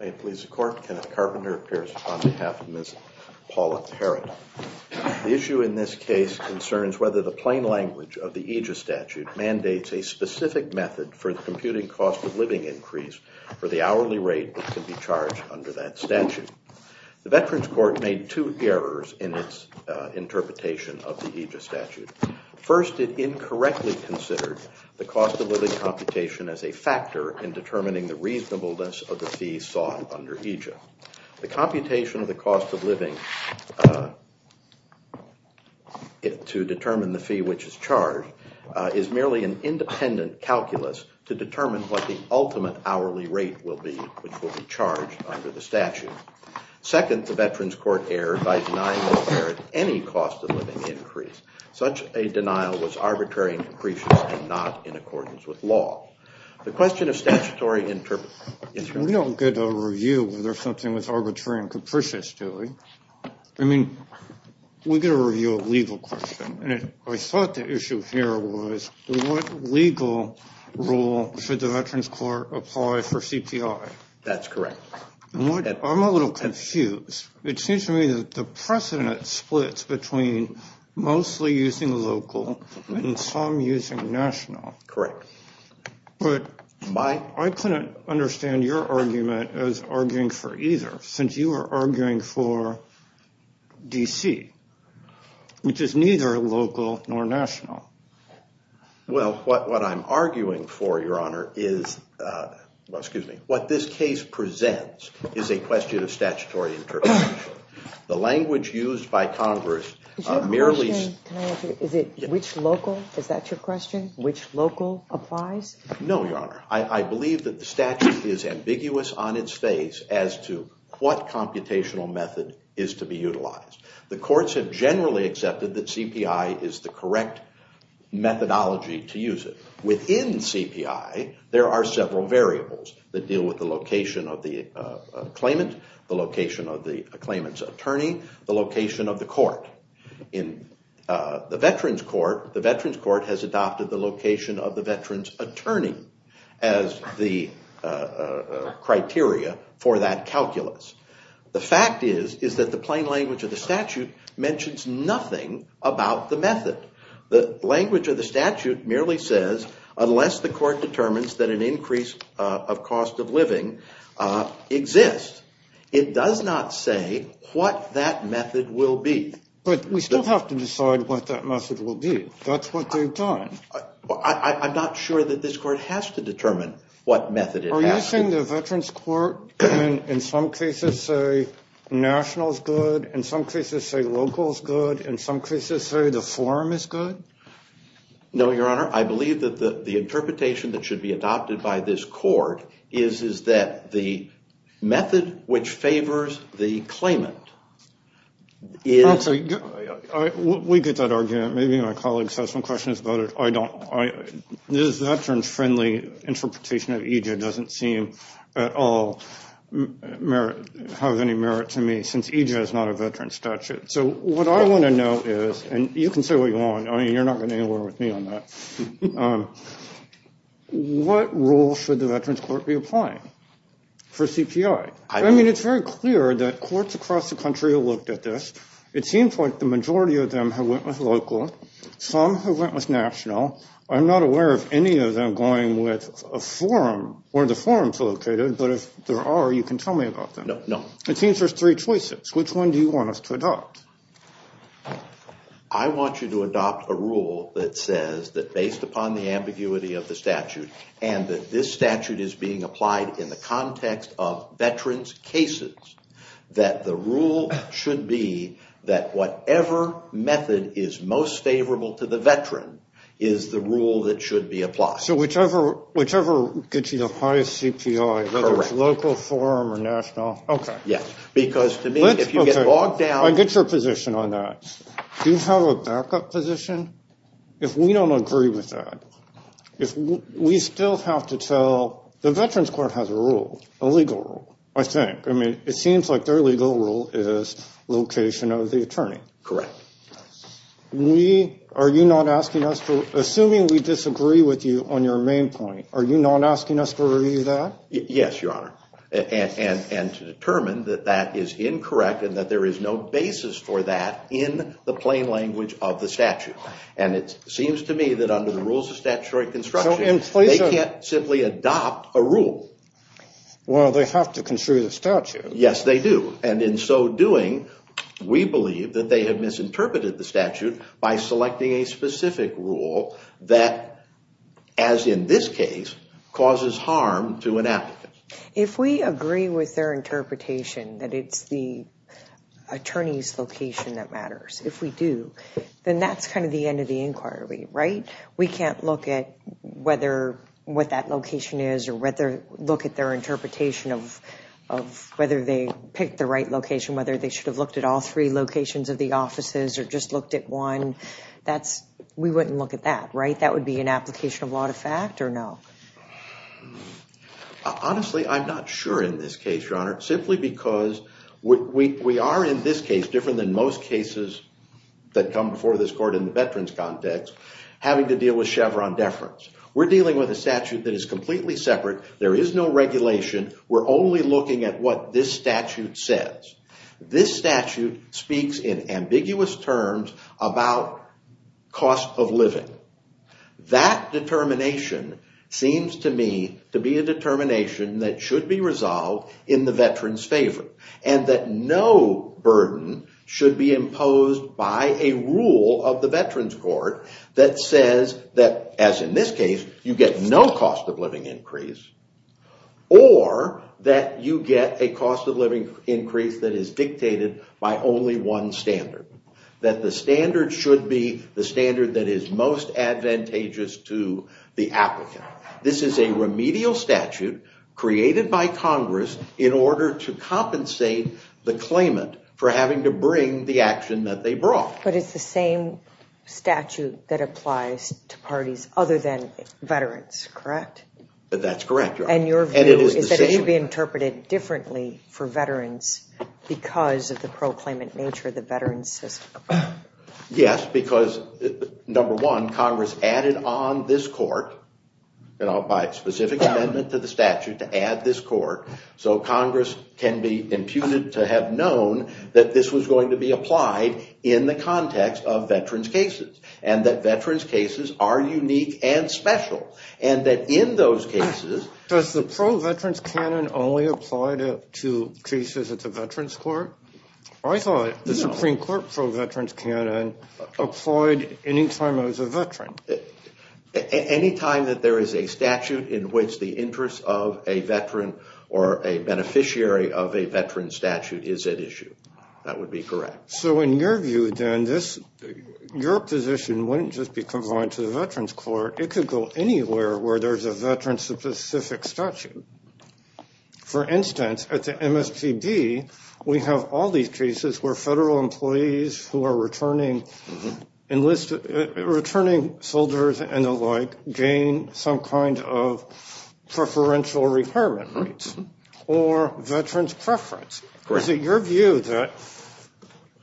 May it please the court, Kenneth Carpenter appears on behalf of Ms. Paula Parrott. The issue in this case concerns whether the plain language of the Aegis statute mandates a specific method for the computing cost of living increase for the hourly rate that can be charged under that statute. The Veterans Court made two errors in its interpretation of the Aegis statute. First, it incorrectly considered the cost of living computation as a factor in determining the reasonableness of the fee sought under Aegis. The computation of the cost of living to determine the fee which is charged is merely an independent calculus to determine what the ultimate hourly rate will be which will be charged under the statute. Second, the Veterans Court erred by denying that there at any cost of living increase. Such a denial was arbitrary and capricious and not in accordance with law. The question of statutory interpretation... We don't get a review whether something was arbitrary and capricious, do we? I mean, we get a review of legal question and I thought the issue here was what legal rule should the Veterans Court apply for CPI? That's correct. I'm a little confused. It seems to me that the precedent splits between mostly using local and some using national. Correct. But I couldn't understand your argument as arguing for either since you are arguing for DC, which is neither local nor national. Well, what I'm arguing for, Your Honor, is what this case presents is a question of statutory interpretation. The language used by Congress merely... Which local? Is that your question? Which local applies? No, Your Honor. I computational method is to be utilized. The courts have generally accepted that CPI is the correct methodology to use it. Within CPI, there are several variables that deal with the location of the claimant, the location of the claimant's attorney, the location of the court. In the Veterans Court, the Veterans Court has adopted the location of the veterans attorney as the criteria for that The fact is that the plain language of the statute mentions nothing about the method. The language of the statute merely says unless the court determines that an increase of cost of living exists, it does not say what that method will be. But we still have to decide what that method will be. That's what they've done. I'm not sure that this court has to determine what method it has. Are you saying the Veterans Court in some cases say national is good, in some cases say local is good, in some cases say the forum is good? No, Your Honor. I believe that the interpretation that should be adopted by this court is that the method which favors the veterans friendly interpretation of EJ doesn't seem at all have any merit to me since EJ is not a veteran statute. So what I want to know is, and you can say what you want. I mean, you're not going anywhere with me on that. What rule should the Veterans Court be applying for CPI? I mean, it's very clear that courts across the country have looked at this. It seems like the majority of them have went with local. Some have went with national. I'm not aware of any of them going with a forum or the forums located. But if there are, you can tell me about them. No. It seems there's three choices. Which one do you want us to adopt? I want you to adopt a rule that says that based upon the ambiguity of the statute and that this statute is being applied in the context of veterans' cases, that the rule that should be that whatever method is most favorable to the veteran is the rule that should be applied. So whichever whichever gets you the highest CPI, whether it's local, forum, or national. Okay. Yes. Because to me, if you get bogged down. I get your position on that. Do you have a backup position? If we don't agree with that, if we still have to tell the Veterans Court has a rule, a legal rule, I think. I mean, it seems like their legal rule is location of the attorney. Correct. Are you not asking us to, assuming we disagree with you on your main point, are you not asking us to review that? Yes, Your Honor. And to determine that that is incorrect and that there is no basis for that in the plain language of the statute. And it seems to me that under the rules of statutory construction, they can't simply adopt a rule. Well, they have to construe the statute. Yes, they do. And in so doing, we believe that they have misinterpreted the statute by selecting a specific rule that, as in this case, causes harm to an applicant. If we agree with their interpretation that it's the end of the inquiry, right, we can't look at whether what that location is or whether look at their interpretation of whether they picked the right location, whether they should have looked at all three locations of the offices or just looked at one. That's, we wouldn't look at that, right? That would be an application of law to fact or no? Honestly, I'm not sure in this case, Your Honor, simply because we are in this case, different than most cases that come before this court in the veterans context, having to deal with Chevron deference. We're dealing with a statute that is completely separate. There is no regulation. We're only looking at what this statute says. This statute speaks in ambiguous terms about cost of living. That determination seems to me to be a veteran's favorite and that no burden should be imposed by a rule of the veterans court that says that, as in this case, you get no cost of living increase or that you get a cost of living increase that is dictated by only one standard. That the standard should be the standard that is most advantageous to the applicant. This is a remedial statute created by Congress in order to compensate the claimant for having to bring the action that they brought. But it's the same statute that applies to parties other than veterans, correct? That's correct, Your Honor. And your view is that it should be interpreted differently for veterans because of the proclaimant nature of the veterans system? Yes, because, number one, Congress added on this court by specific amendment to the statute to add this court so Congress can be imputed to have known that this was going to be applied in the context of veterans cases and that veterans cases are unique and special and that in those cases... Does the pro-veterans canon only apply to cases at the veterans court? I thought the Supreme Court pro-veterans canon applied any time I was a veteran. Any time that there is a statute in which the interest of a veteran or a beneficiary of a veteran statute is at equal anywhere where there's a veteran-specific statute. For instance, at the MSPB, we have all these cases where federal employees who are returning soldiers and the like gain some kind of preferential retirement rates or veterans preference. Is it your view that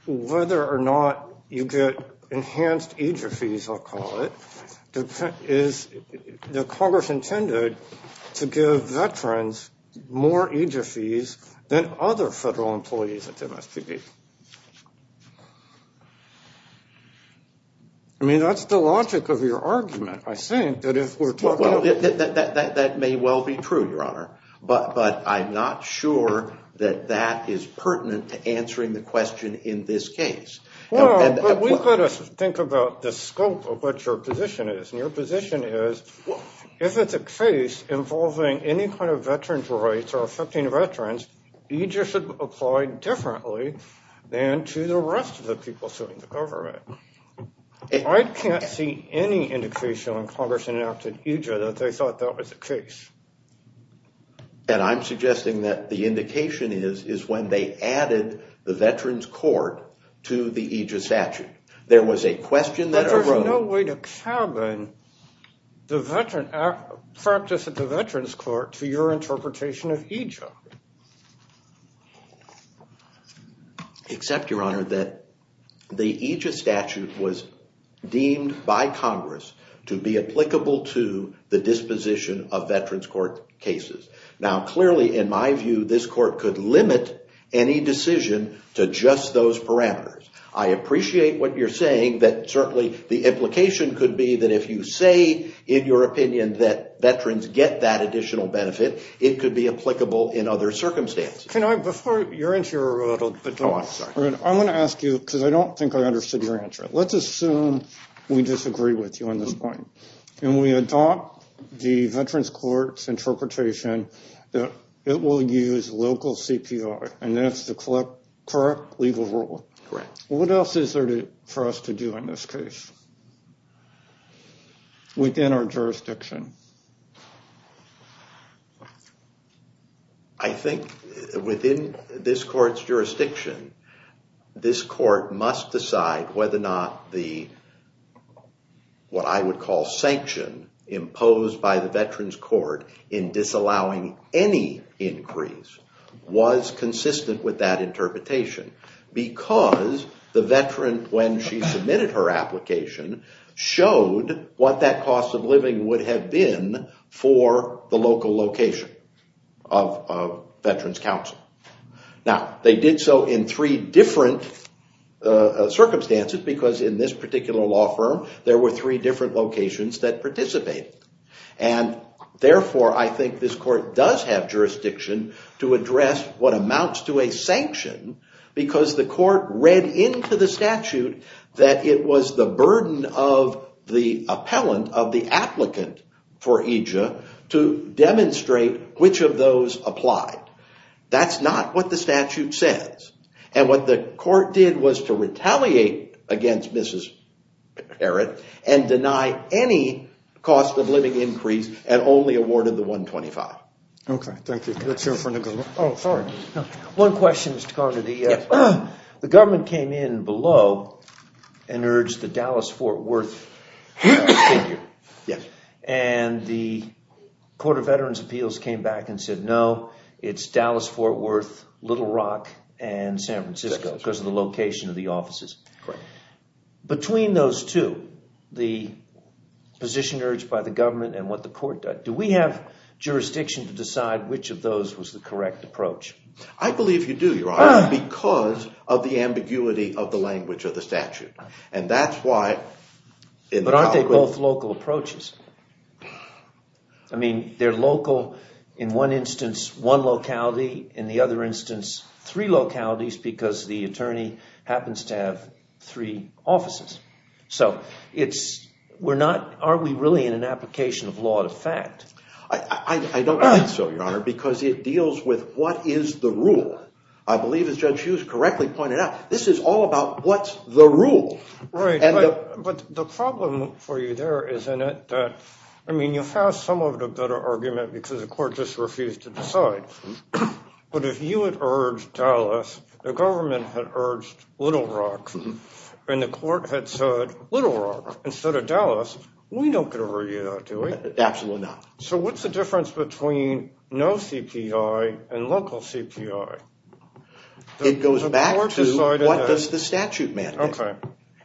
whether or not you get enhanced EJER fees, I'll call it, is the Congress intended to give veterans more EJER fees than other federal employees at the MSPB? I mean, that's the logic of your argument, I think, that if we're talking about... Well, that may well be true, Your Honor, but I'm not sure that that is pertinent to think about the scope of what your position is. And your position is, if it's a case involving any kind of veterans' rights or affecting veterans, EJER should apply differently than to the rest of the people suing the government. I can't see any indication when Congress enacted EJER that they thought that was the case. And I'm suggesting that the indication is when they added the Veterans Court to the EJER statute. There was a question that arose... But there's no way to cabin the practice at the Veterans Court to your interpretation of EJER. Except, Your Honor, that the EJER statute was deemed by Congress to be Now, clearly, in my view, this court could limit any decision to just those parameters. I appreciate what you're saying, that certainly the implication could be that if you say, in your opinion, that veterans get that additional benefit, it could be applicable in other circumstances. I'm going to ask you, because I don't think I understood your answer. Let's assume we disagree with you on this point. And we adopt the Veterans Court's interpretation that it will use local CPR, and that's the correct legal rule. What else is there for us to do in this case within our jurisdiction? I think within this court's jurisdiction, this court must decide whether or not the, what I would call, sanction imposed by the Veterans Court in disallowing any was consistent with that interpretation because the veteran, when she submitted her application, showed what that cost of living would have been for the local location of Veterans Council. Now, they did so in three different circumstances because in this particular law firm, there were three different locations that participated. And therefore, I think this court does have jurisdiction to address what amounts to a sanction because the court read into the statute that it was the burden of the appellant, for EJIA, to demonstrate which of those applied. That's not what the statute says. And what the court did was to retaliate against Mrs. Perritt and deny any cost of living increase and only awarded the 125. One question, Mr. Carter. The government came in below and urged the Dallas-Fort Worth figure. And the Court of Veterans Appeals came back and said, no, it's Dallas-Fort Worth, Little Rock, and San Francisco because of the location of the offices. Between those two, the position urged by the government and what the court did, do we have jurisdiction to decide which of those was the correct approach? I believe you do, Your Honor, because of the ambiguity of the language of the statute. And that's why... I mean, they're local. In one instance, one locality. In the other instance, three localities because the attorney happens to have three offices. So, are we really in an application of law to fact? I don't think so, Your Honor, because it deals with what is the rule. I believe, as Judge Hughes correctly pointed out, this is all about what's the rule. Right. But the problem for you there is in it that, I mean, you have some of the better argument because the court just refused to decide. But if you had urged Dallas, the government had urged Little Rock, and the court had said, Little Rock instead of Dallas, we don't get to review that, do we? Absolutely not. So, what's the difference between no CPI and local CPI? It goes back to what does the statute mandate?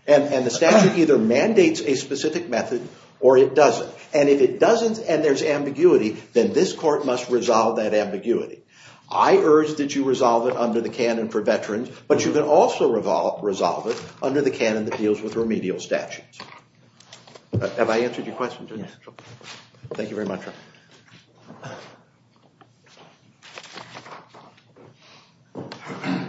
And the statute either mandates a specific method or it doesn't. And if it doesn't and there's ambiguity, then this court must resolve that ambiguity. I urge that you resolve it under the canon for veterans, but you can also resolve it under the canon that deals with remedial statutes. Have I answered your question? Thank you very much, Your Honor.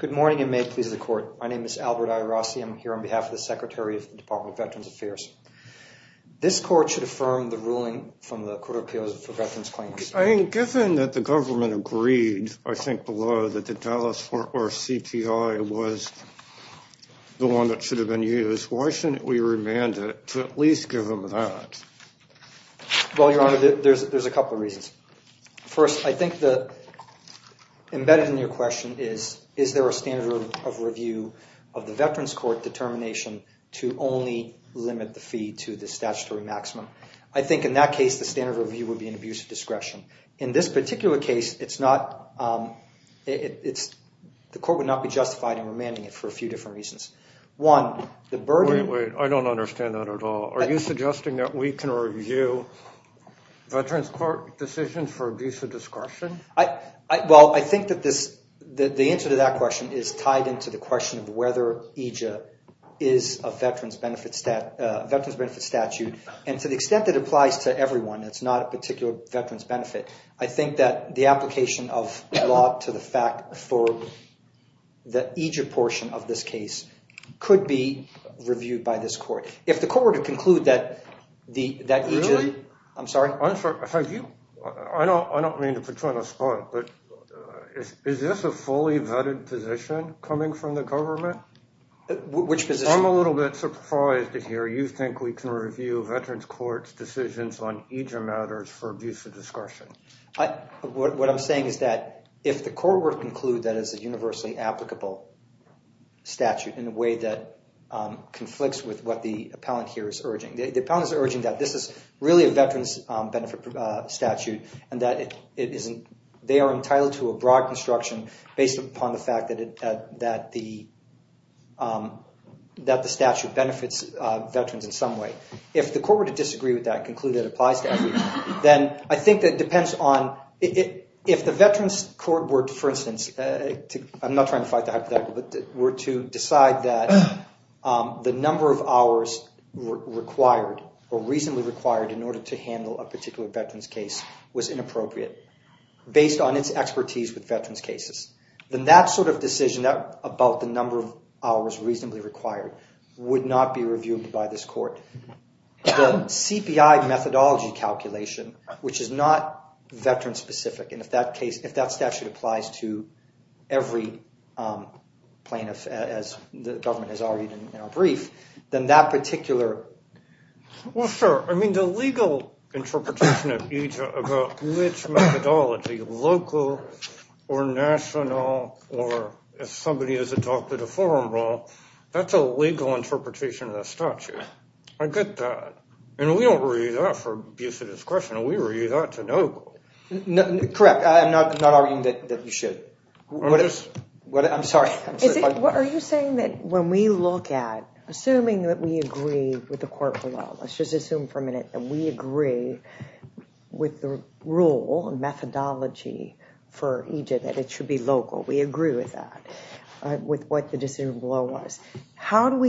Good morning, and may it please the court. My name is Albert Iarossi. I'm here on behalf of the Secretary of the Department of Veterans Affairs. This court should affirm the ruling from the Court of Appeals for Veterans Claims. I mean, given that the government agreed, I think, below that the Dallas or CPI was the one that should have been used, why shouldn't we remand it to at least give them that? Well, Your Honor, there's a couple of reasons. First, I think that embedded in your question is, is there a standard of review of the veterans court determination to only limit the fee to the statutory maximum? I think in that case, the standard review would be an abuse of discretion. In this particular case, the court would not be justified in remanding it for a few different reasons. Wait, wait. I don't understand that at all. Are you suggesting that we can review veterans court decisions for abuse of discretion? Well, I think that the answer to that question is tied into the question of whether EJIA is a veterans benefit statute. And to the extent that it applies to everyone, it's not a particular veterans benefit. I think that the application of law to the fact for the EJIA portion of this case could be reviewed by this court. If the court were to conclude that EJIA… Really? I'm sorry. I don't mean to put you on the spot, but is this a fully vetted position coming from the government? Which position? I'm a little bit surprised to hear you think we can review veterans court decisions on EJIA matters for abuse of discretion. What I'm saying is that if the court were to conclude that is a universally applicable statute in a way that conflicts with what the appellant here is urging. The appellant is urging that this is really a veterans benefit statute and that they are entitled to a broad construction based upon the fact that the statute benefits veterans in some way. If the court were to disagree with that and conclude that it applies to everyone, then I think that depends on… If the veterans court were, for instance… I'm not trying to fight the hypothetical, but were to decide that the number of hours required or reasonably required in order to handle a particular veterans case was inappropriate based on its expertise with veterans cases. Then that sort of decision about the number of hours reasonably required would not be reviewed by this court. The CPI methodology calculation, which is not veterans specific, and if that statute applies to every plaintiff as the government has argued in our brief, then that particular… If somebody has adopted a forum rule, that's a legal interpretation of the statute. I get that. And we don't read that for abuse of discretion. We read that to know. Correct. I'm not arguing that you should. I'm sorry. Are you saying that when we look at… Assuming that we agree with the court below, let's just assume for a minute that we agree with the rule and methodology for EJ that it should be local. We agree with that, with what the decision below was. Are you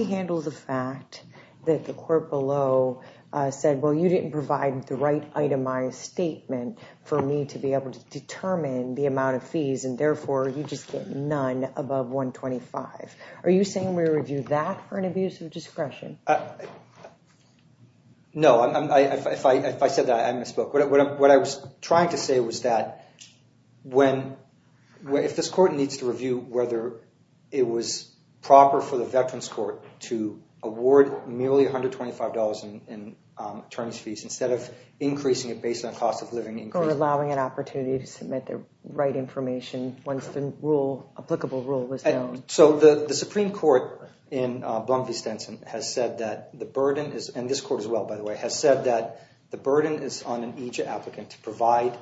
saying we review that for an abuse of discretion? No. If I said that, I misspoke. What I was trying to say was that if this court needs to review whether it was proper for the veterans court to award merely $125 in terms of fees instead of increasing it based on cost of living… Or allowing an opportunity to submit the right information once the applicable rule was known. So the Supreme Court in Blum v. Stenson has said that the burden is… And this court as well, by the way, has said that the burden is on an EJ applicant to provide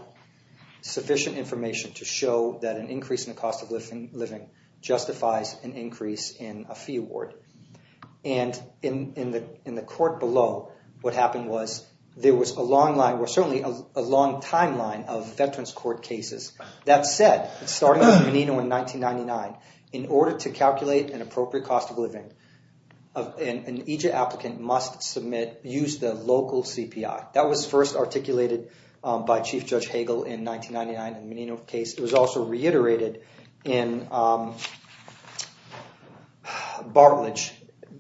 sufficient information to show that an increase in the cost of living justifies an increase in a fee award. And in the court below, what happened was there was a long line… Well, certainly a long timeline of veterans court cases. That said, starting with Menino in 1999, in order to calculate an appropriate cost of living, an EJ applicant must use the local CPI. That was first articulated by Chief Judge Hagel in 1999 in the Menino case. It was also reiterated in Bartledge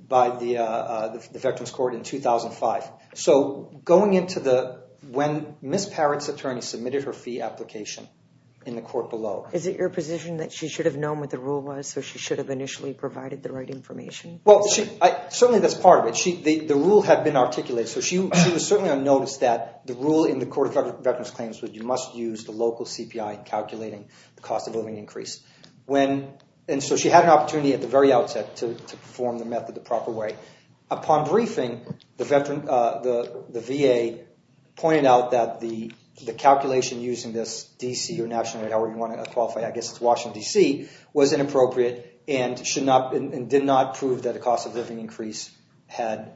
by the veterans court in 2005. So going into the – when Ms. Parrott's attorney submitted her fee application in the court below… Is it your position that she should have known what the rule was, so she should have initially provided the right information? Well, certainly that's part of it. The rule had been articulated, so she was certainly on notice that the rule in the court of veterans claims was you must use the local CPI in calculating the cost of living increase. And so she had an opportunity at the very outset to perform the method the proper way. Upon briefing, the VA pointed out that the calculation using this D.C. or national or however you want to qualify, I guess it's Washington, D.C. was inappropriate and did not prove that a cost of living increase had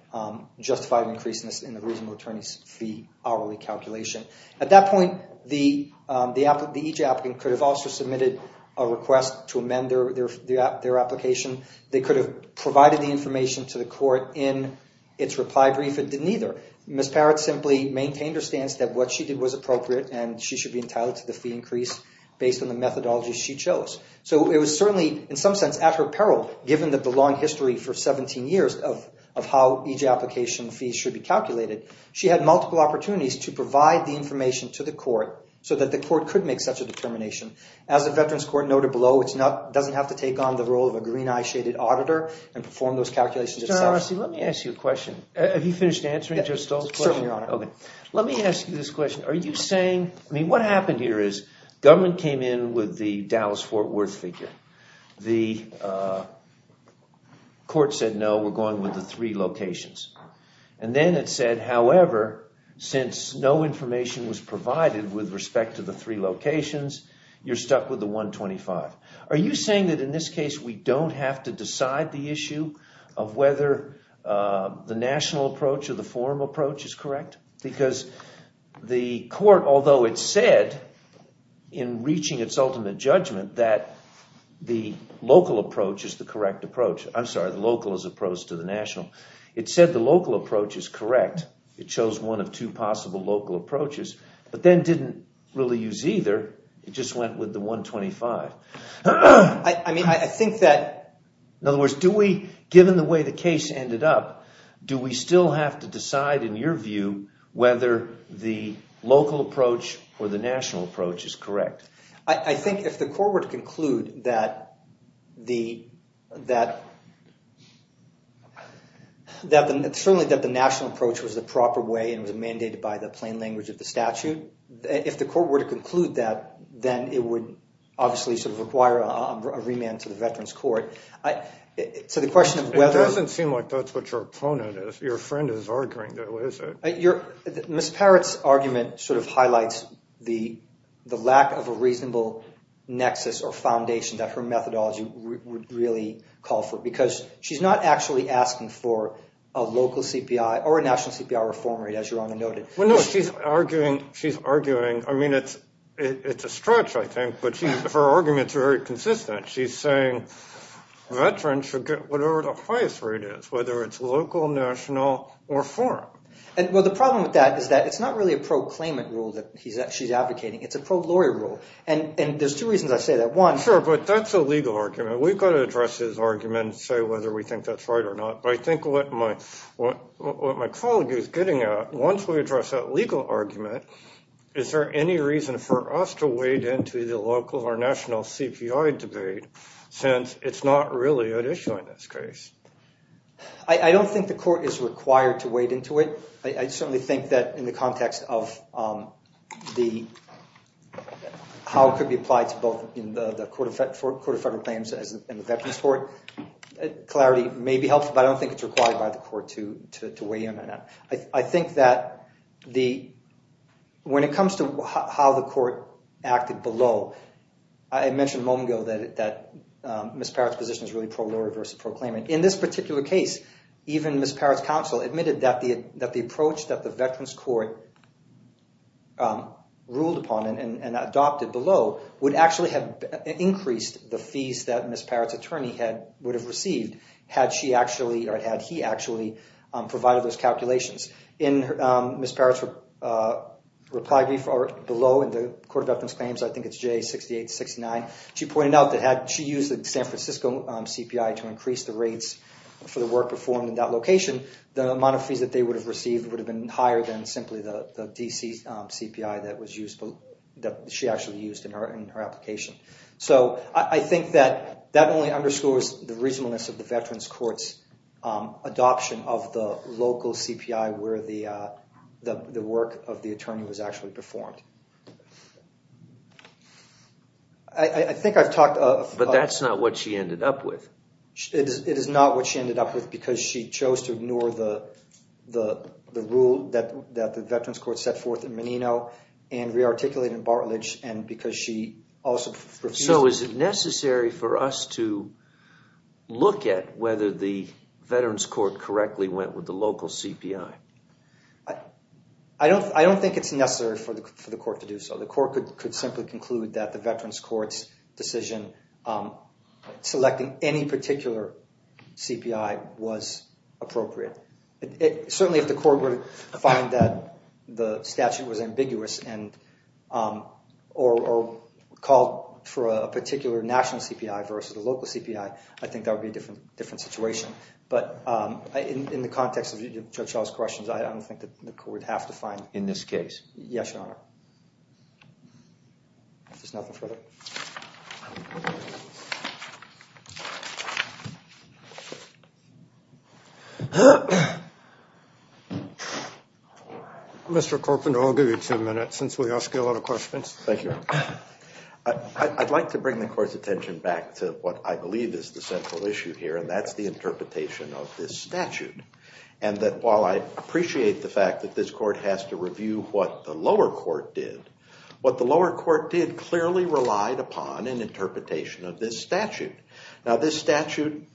justified an increase in the reasonable attorney's fee hourly calculation. At that point, the EJ applicant could have also submitted a request to amend their application. They could have provided the information to the court in its reply brief. It didn't either. Ms. Parrott simply maintained her stance that what she did was appropriate and she should be entitled to the fee increase based on the methodology she chose. So it was certainly in some sense at her peril given the long history for 17 years of how EJ application fees should be calculated. She had multiple opportunities to provide the information to the court so that the court could make such a determination. As the Veterans Court noted below, it doesn't have to take on the role of a green-eye shaded auditor and perform those calculations itself. Mr. Arasi, let me ask you a question. Have you finished answering Judge Stoll's question? Certainly, Your Honor. Okay. Let me ask you this question. Are you saying, I mean, what happened here is government came in with the Dallas-Fort Worth figure. The court said no, we're going with the three locations. And then it said, however, since no information was provided with respect to the three locations, you're stuck with the 125. Are you saying that in this case we don't have to decide the issue of whether the national approach or the formal approach is correct? Because the court, although it said in reaching its ultimate judgment that the local approach is the correct approach. I'm sorry, the local is the approach to the national. It said the local approach is correct. It chose one of two possible local approaches, but then didn't really use either. It just went with the 125. I mean, I think that… In other words, do we – given the way the case ended up, do we still have to decide, in your view, whether the local approach or the national approach is correct? I think if the court were to conclude that the – certainly that the national approach was the proper way and was mandated by the plain language of the statute, if the court were to conclude that, then it would obviously sort of require a remand to the Veterans Court. So the question of whether… It doesn't seem like that's what your opponent is. Your friend is arguing, though, is it? Ms. Parrott's argument sort of highlights the lack of a reasonable nexus or foundation that her methodology would really call for because she's not actually asking for a local CPI or a national CPI reform rate, as your Honor noted. Well, no. She's arguing – I mean it's a stretch, I think, but her argument is very consistent. She's saying veterans should get whatever the highest rate is, whether it's local, national, or foreign. Well, the problem with that is that it's not really a pro-claimant rule that she's advocating. It's a pro-lawyer rule, and there's two reasons I say that. One… Sure, but that's a legal argument. We've got to address his argument and say whether we think that's right or not. But I think what my colleague is getting at, once we address that legal argument, is there any reason for us to wade into the local or national CPI debate since it's not really at issue in this case? I don't think the court is required to wade into it. I certainly think that in the context of how it could be applied to both the Court of Federal Claims and the Veterans Court, clarity may be helpful, but I don't think it's required by the court to wade in on that. I think that when it comes to how the court acted below, I mentioned a moment ago that Ms. Parrott's position is really pro-lawyer versus pro-claimant. In this particular case, even Ms. Parrott's counsel admitted that the approach that the Veterans Court ruled upon and adopted below would actually have increased the fees that Ms. Parrott's attorney would have received had she actually or had he actually provided those calculations. In Ms. Parrott's reply below in the Court of Veterans Claims, I think it's J6869, she pointed out that had she used the San Francisco CPI to increase the rates for the work performed in that location, the amount of fees that they would have received would have been higher than simply the DC CPI that she actually used in her application. I think that that only underscores the reasonableness of the Veterans Court's adoption of the local CPI where the work of the attorney was actually performed. But that's not what she ended up with. It is not what she ended up with because she chose to ignore the rule that the Veterans Court set forth in Menino and re-articulate in Bartledge and because she also refused... So is it necessary for us to look at whether the Veterans Court correctly went with the local CPI? I don't think it's necessary for the court to do so. The court could simply conclude that the Veterans Court's decision selecting any particular CPI was appropriate. Certainly if the court were to find that the statute was ambiguous or called for a particular national CPI versus a local CPI, I think that would be a different situation. But in the context of Judge Shaw's questions, I don't think that the court would have to find... In this case? Yes, Your Honor. If there's nothing further... Mr. Corbin, I'll give you two minutes since we ask you a lot of questions. Thank you, Your Honor. I'd like to bring the court's attention back to what I believe is the central issue here, and that's the interpretation of this statute. And that while I appreciate the fact that this court has to review what the lower court did, what the lower court did clearly relied upon an interpretation of this statute. Now this statute,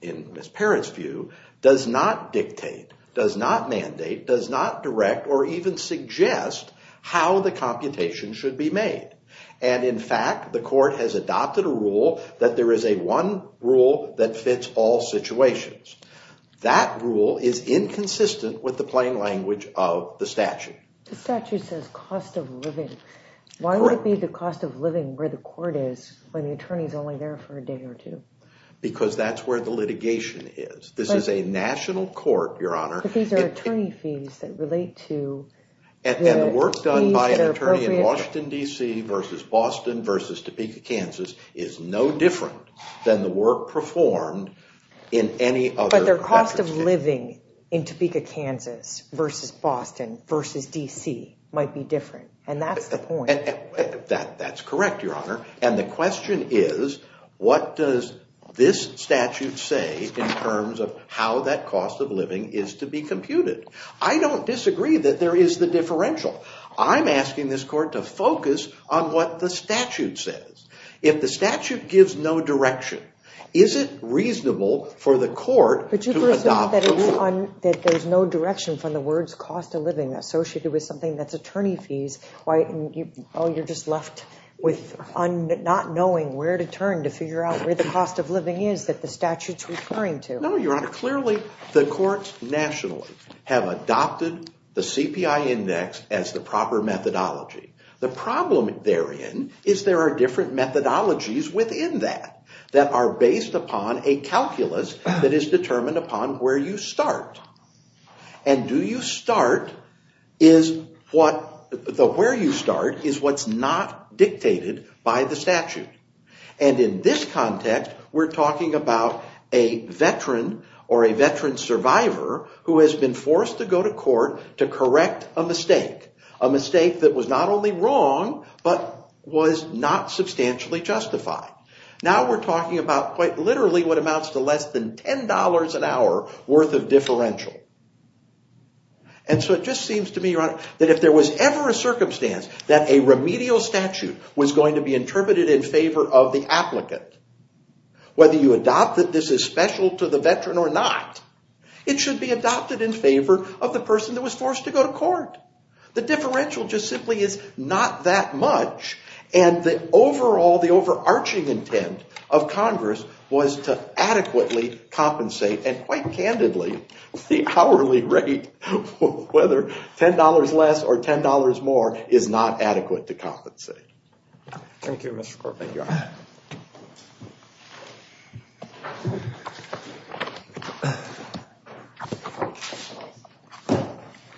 in Ms. Parrott's view, does not dictate, does not mandate, does not direct, or even suggest how the computation should be made. And in fact, the court has adopted a rule that there is a one rule that fits all situations. That rule is inconsistent with the plain language of the statute. The statute says cost of living. Why would it be the cost of living where the court is when the attorney is only there for a day or two? Because that's where the litigation is. This is a national court, Your Honor. But these are attorney fees that relate to... And the work done by an attorney in Washington, D.C., versus Boston, versus Topeka, Kansas, is no different than the work performed in any other... But their cost of living in Topeka, Kansas, versus Boston, versus D.C., might be different. And that's the point. That's correct, Your Honor. And the question is, what does this statute say in terms of how that cost of living is to be computed? I don't disagree that there is the differential. I'm asking this court to focus on what the statute says. If the statute gives no direction, is it reasonable for the court to adopt the rule? There's no direction from the words cost of living associated with something that's attorney fees. Oh, you're just left with not knowing where to turn to figure out where the cost of living is that the statute's referring to. No, Your Honor. Clearly, the courts nationally have adopted the CPI index as the proper methodology. The problem therein is there are different methodologies within that that are based upon a calculus that is determined upon where you start. And where you start is what's not dictated by the statute. And in this context, we're talking about a veteran or a veteran survivor who has been forced to go to court to correct a mistake, a mistake that was not only wrong, but was not substantially justified. Now we're talking about quite literally what amounts to less than $10 an hour worth of differential. And so it just seems to me, Your Honor, that if there was ever a circumstance that a remedial statute was going to be interpreted in favor of the applicant, whether you adopt that this is special to the veteran or not, it should be adopted in favor of the person that was forced to go to court. The differential just simply is not that much. And the overall, the overarching intent of Congress was to adequately compensate. And quite candidly, the hourly rate, whether $10 less or $10 more, is not adequate to compensate. Thank you, Mr. Court. Thank you, Your Honor.